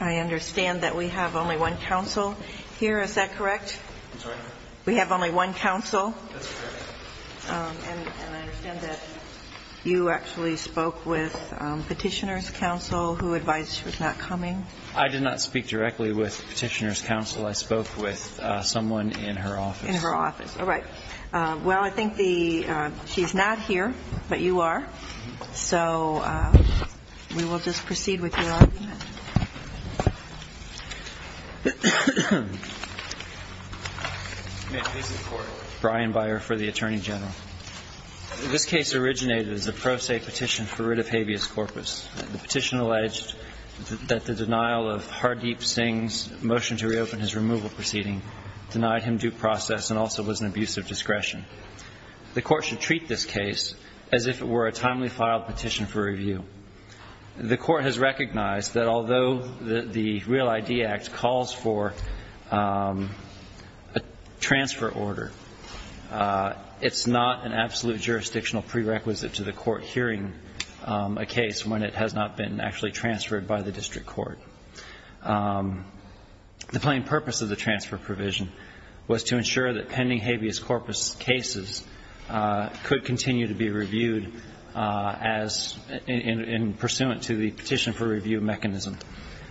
I understand that we have only one counsel here. Is that correct? I'm sorry? We have only one counsel. That's correct. And I understand that you actually spoke with Petitioner's Counsel, who advised she was not coming? I did not speak directly with Petitioner's Counsel. I spoke with someone in her office. In her office. All right. Well, I think the – she's not here, but you are, so we will just proceed with your argument. Brian Byer for the Attorney General. This case originated as a pro se petition for writ of habeas corpus. The petition alleged that the denial of Hardeep Singh's motion to reopen his removal proceeding denied him due process and also was an abuse of discretion. The court should treat this case as if it were a timely filed petition for review. The court has recognized that although the Real ID Act calls for a transfer order, it's not an absolute jurisdictional prerequisite to the court hearing a case when it has not been actually transferred by the district court. The plain purpose of the transfer provision was to ensure that pending habeas corpus cases could continue to be reviewed as – in pursuant to the petition for review mechanism.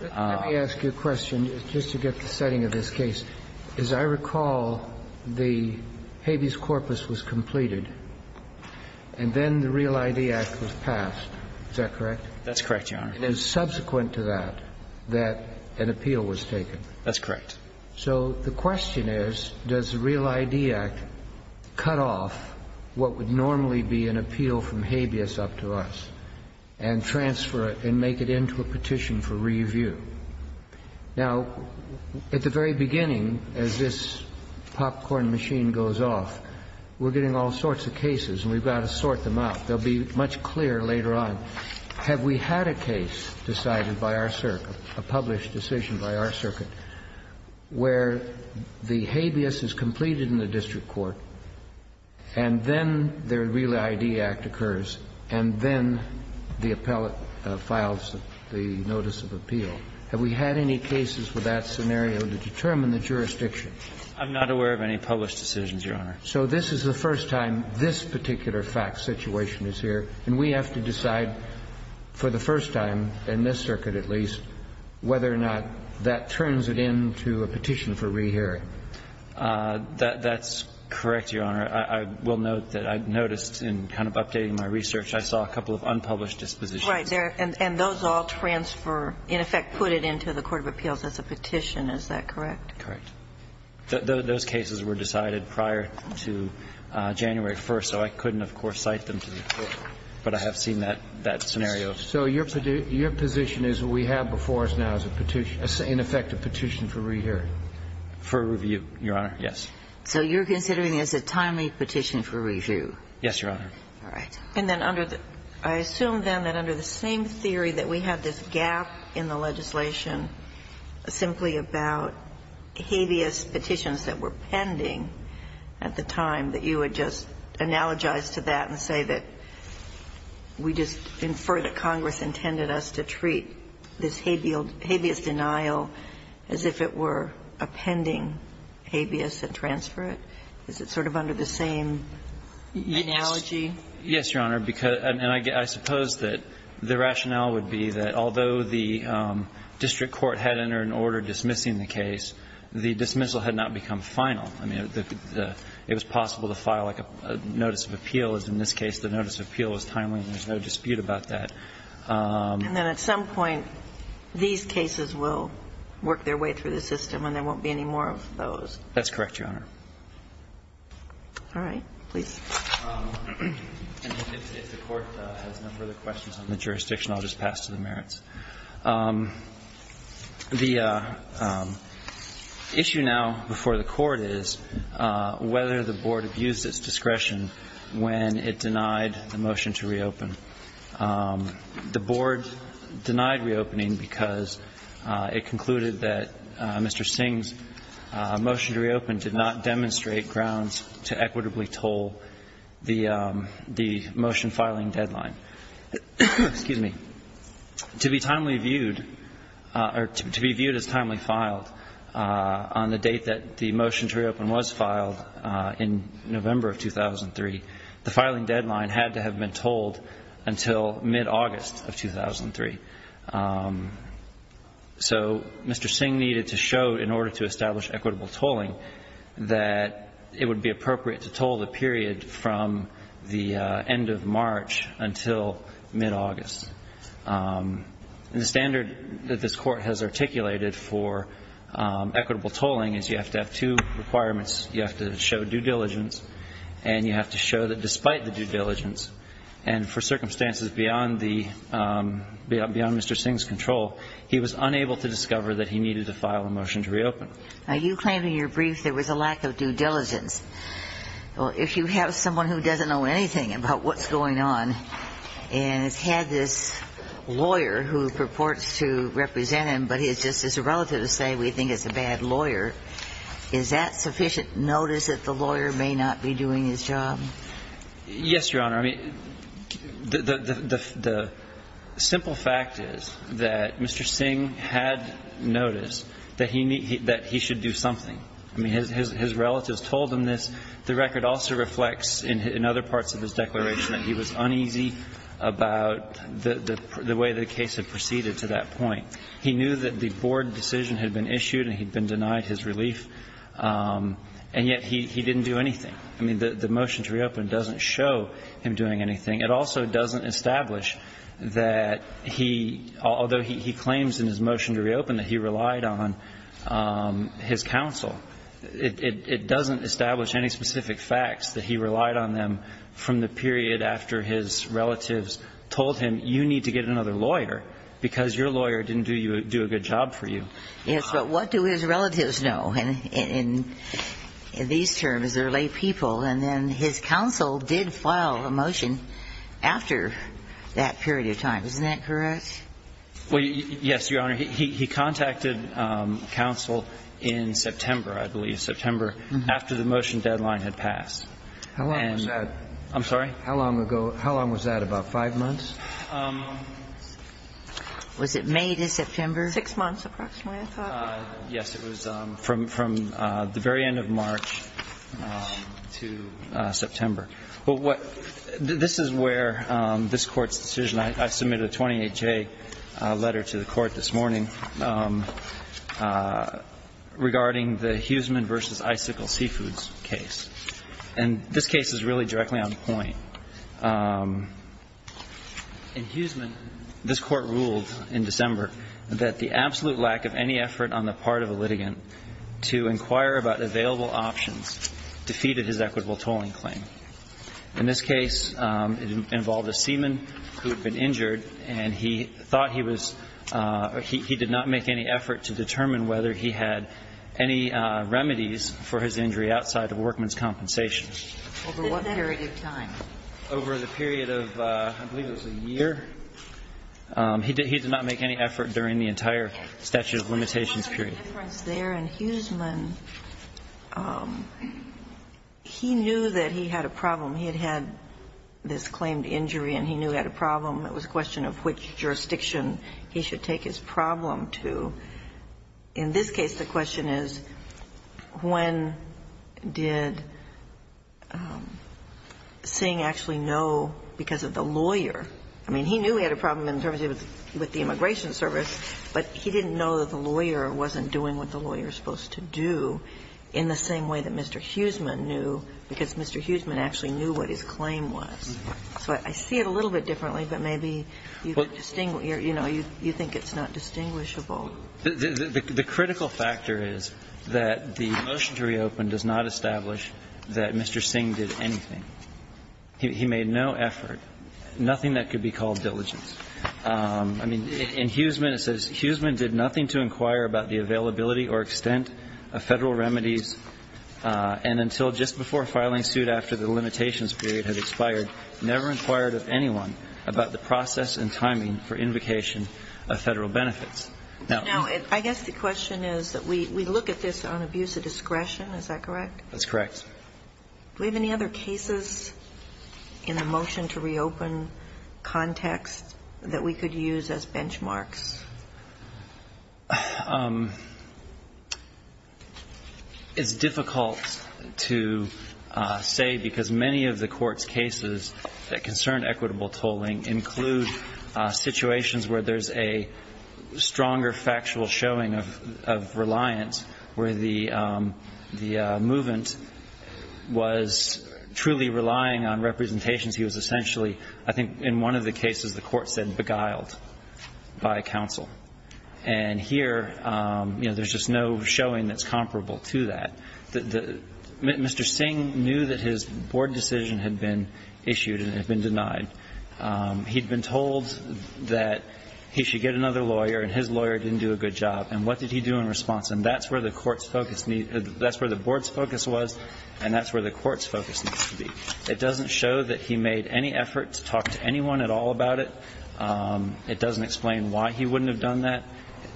Let me ask you a question just to get the setting of this case. As I recall, the habeas corpus was completed, and then the Real ID Act was passed. Is that correct? That's correct, Your Honor. And it was subsequent to that that an appeal was taken. That's correct. So the question is, does the Real ID Act cut off what would normally be an appeal from habeas up to us and transfer it and make it into a petition for review? Now, at the very beginning, as this popcorn machine goes off, we're getting all sorts of cases, and we've got to sort them out. They'll be much clearer later on. Have we had a case decided by our circuit, a published decision by our circuit, where the habeas is completed in the district court, and then the Real ID Act occurs, and then the appellate files the notice of appeal? Have we had any cases with that scenario to determine the jurisdiction? I'm not aware of any published decisions, Your Honor. So this is the first time this particular fact situation is here, and we have to decide for the first time, in this circuit at least, whether or not that turns it into a petition for rehearing. That's correct, Your Honor. I will note that I've noticed in kind of updating my research, I saw a couple of unpublished dispositions. Right. And those all transfer, in effect, put it into the court of appeals as a petition. Is that correct? Those cases were decided prior to January 1st, so I couldn't, of course, cite them to the court, but I have seen that scenario. So your position is we have before us now as a petition, in effect, a petition for rehearing? For review, Your Honor, yes. So you're considering it as a timely petition for review? Yes, Your Honor. All right. And then under the – I assume, then, that under the same theory that we had this gap in the legislation simply about habeas petitions that were pending at the time that you would just analogize to that and say that we just infer that Congress intended us to treat this habeas denial as if it were a pending habeas and transfer it? Is it sort of under the same analogy? Yes, Your Honor. And I suppose that the rationale would be that although the district court had entered an order dismissing the case, the dismissal had not become final. I mean, it was possible to file like a notice of appeal, as in this case the notice of appeal is timely and there's no dispute about that. And then at some point, these cases will work their way through the system and there won't be any more of those. That's correct, Your Honor. All right. Please. If the Court has no further questions on the jurisdiction, I'll just pass to the The issue now before the Court is whether the Board abused its discretion when it denied the motion to reopen. The Board denied reopening because it concluded that Mr. Singh's motion to reopen did not demonstrate grounds to equitably toll the motion filing deadline. Excuse me. To be timely viewed or to be viewed as timely filed on the date that the motion to reopen was filed in November of 2003, the filing deadline had to have been tolled until mid-August of 2003. So Mr. Singh needed to show in order to establish equitable tolling that it would be appropriate to toll the period from the end of March until mid-August. And the standard that this Court has articulated for equitable tolling is you have to have two requirements. You have to show due diligence and you have to show that despite the due diligence, and for circumstances beyond the Mr. Singh's control, he was unable to discover that he needed to file a motion to reopen. Now, you claim in your brief there was a lack of due diligence. Well, if you have someone who doesn't know anything about what's going on and has had this lawyer who purports to represent him, but he's just his relative to say we think it's a bad lawyer, is that sufficient notice that the lawyer may not be doing his job? Yes, Your Honor. I mean, the simple fact is that Mr. Singh had noticed that he should do something. I mean, his relatives told him this. The record also reflects in other parts of his declaration that he was uneasy about the way the case had proceeded to that point. He knew that the board decision had been issued and he'd been denied his relief, and yet he didn't do anything. I mean, the motion to reopen doesn't show him doing anything. It also doesn't establish that he, although he claims in his motion to reopen that he relied on his counsel, it doesn't establish any specific facts that he relied on them from the period after his relatives told him you need to get another lawyer because your lawyer didn't do a good job for you. Yes, but what do his relatives know? Well, there was no indication that he was going to be able to do anything else. And he was going to be in the courtroom for a long time. And in these terms, they're laypeople. And then his counsel did file a motion after that period of time. Isn't that correct? Well, yes, Your Honor. He contacted counsel in September, I believe, September after the motion deadline had passed. How long was that? I'm sorry? How long ago? How long was that, about five months? Was it May to September? Six months approximately, I thought. Yes. It was from the very end of March to September. But what this is where this Court's decision, I submitted a 28-J letter to the Court this morning regarding the Huseman v. Icicle Seafoods case. And this case is really directly on point. In Huseman, this Court ruled in December that the absolute lack of any effort on the part of a litigant to inquire about available options defeated his equitable tolling claim. In this case, it involved a seaman who had been injured, and he thought he was or he did not make any effort to determine whether he had any remedies for his injury outside the workman's compensation. Over what period of time? Over the period of, I believe it was a year. He did not make any effort during the entire statute of limitations period. There was a difference there in Huseman. He knew that he had a problem. He had had this claimed injury, and he knew he had a problem. It was a question of which jurisdiction he should take his problem to. In this case, the question is when did Singh actually know because of the lawyer he knew he had a problem in terms of the immigration service, but he didn't know that the lawyer wasn't doing what the lawyer is supposed to do in the same way that Mr. Huseman knew, because Mr. Huseman actually knew what his claim was. So I see it a little bit differently, but maybe you could distinguish, you know, you think it's not distinguishable. The critical factor is that the motion to reopen does not establish that Mr. Singh did anything. He made no effort, nothing that could be called diligence. I mean, in Huseman, it says, Huseman did nothing to inquire about the availability or extent of Federal remedies and until just before filing suit after the limitations period had expired, never inquired of anyone about the process and timing for invocation of Federal benefits. Now, I guess the question is that we look at this on abuse of discretion. Is that correct? That's correct. Do we have any other cases in the motion to reopen context that we could use as benchmarks? It's difficult to say, because many of the Court's cases that concern equitable tolling include situations where there's a stronger factual showing of reliance where the movant was truly relying on representations. He was essentially, I think, in one of the cases the Court said, beguiled by counsel. And here, you know, there's just no showing that's comparable to that. Mr. Singh knew that his board decision had been issued and had been denied. He'd been told that he should get another lawyer, and his lawyer didn't do a good job. And what did he do in response? And that's where the Court's focus needs to be. That's where the Board's focus was, and that's where the Court's focus needs to be. It doesn't show that he made any effort to talk to anyone at all about it. It doesn't explain why he wouldn't have done that.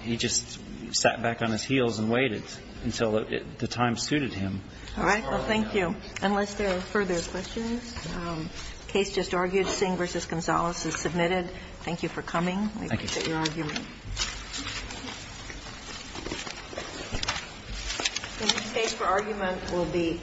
He just sat back on his heels and waited until the time suited him. All right. Well, thank you. Unless there are further questions. The case just argued. Singh v. Gonzales is submitted. Thank you for coming. Thank you. We appreciate your argument. This case for argument will be.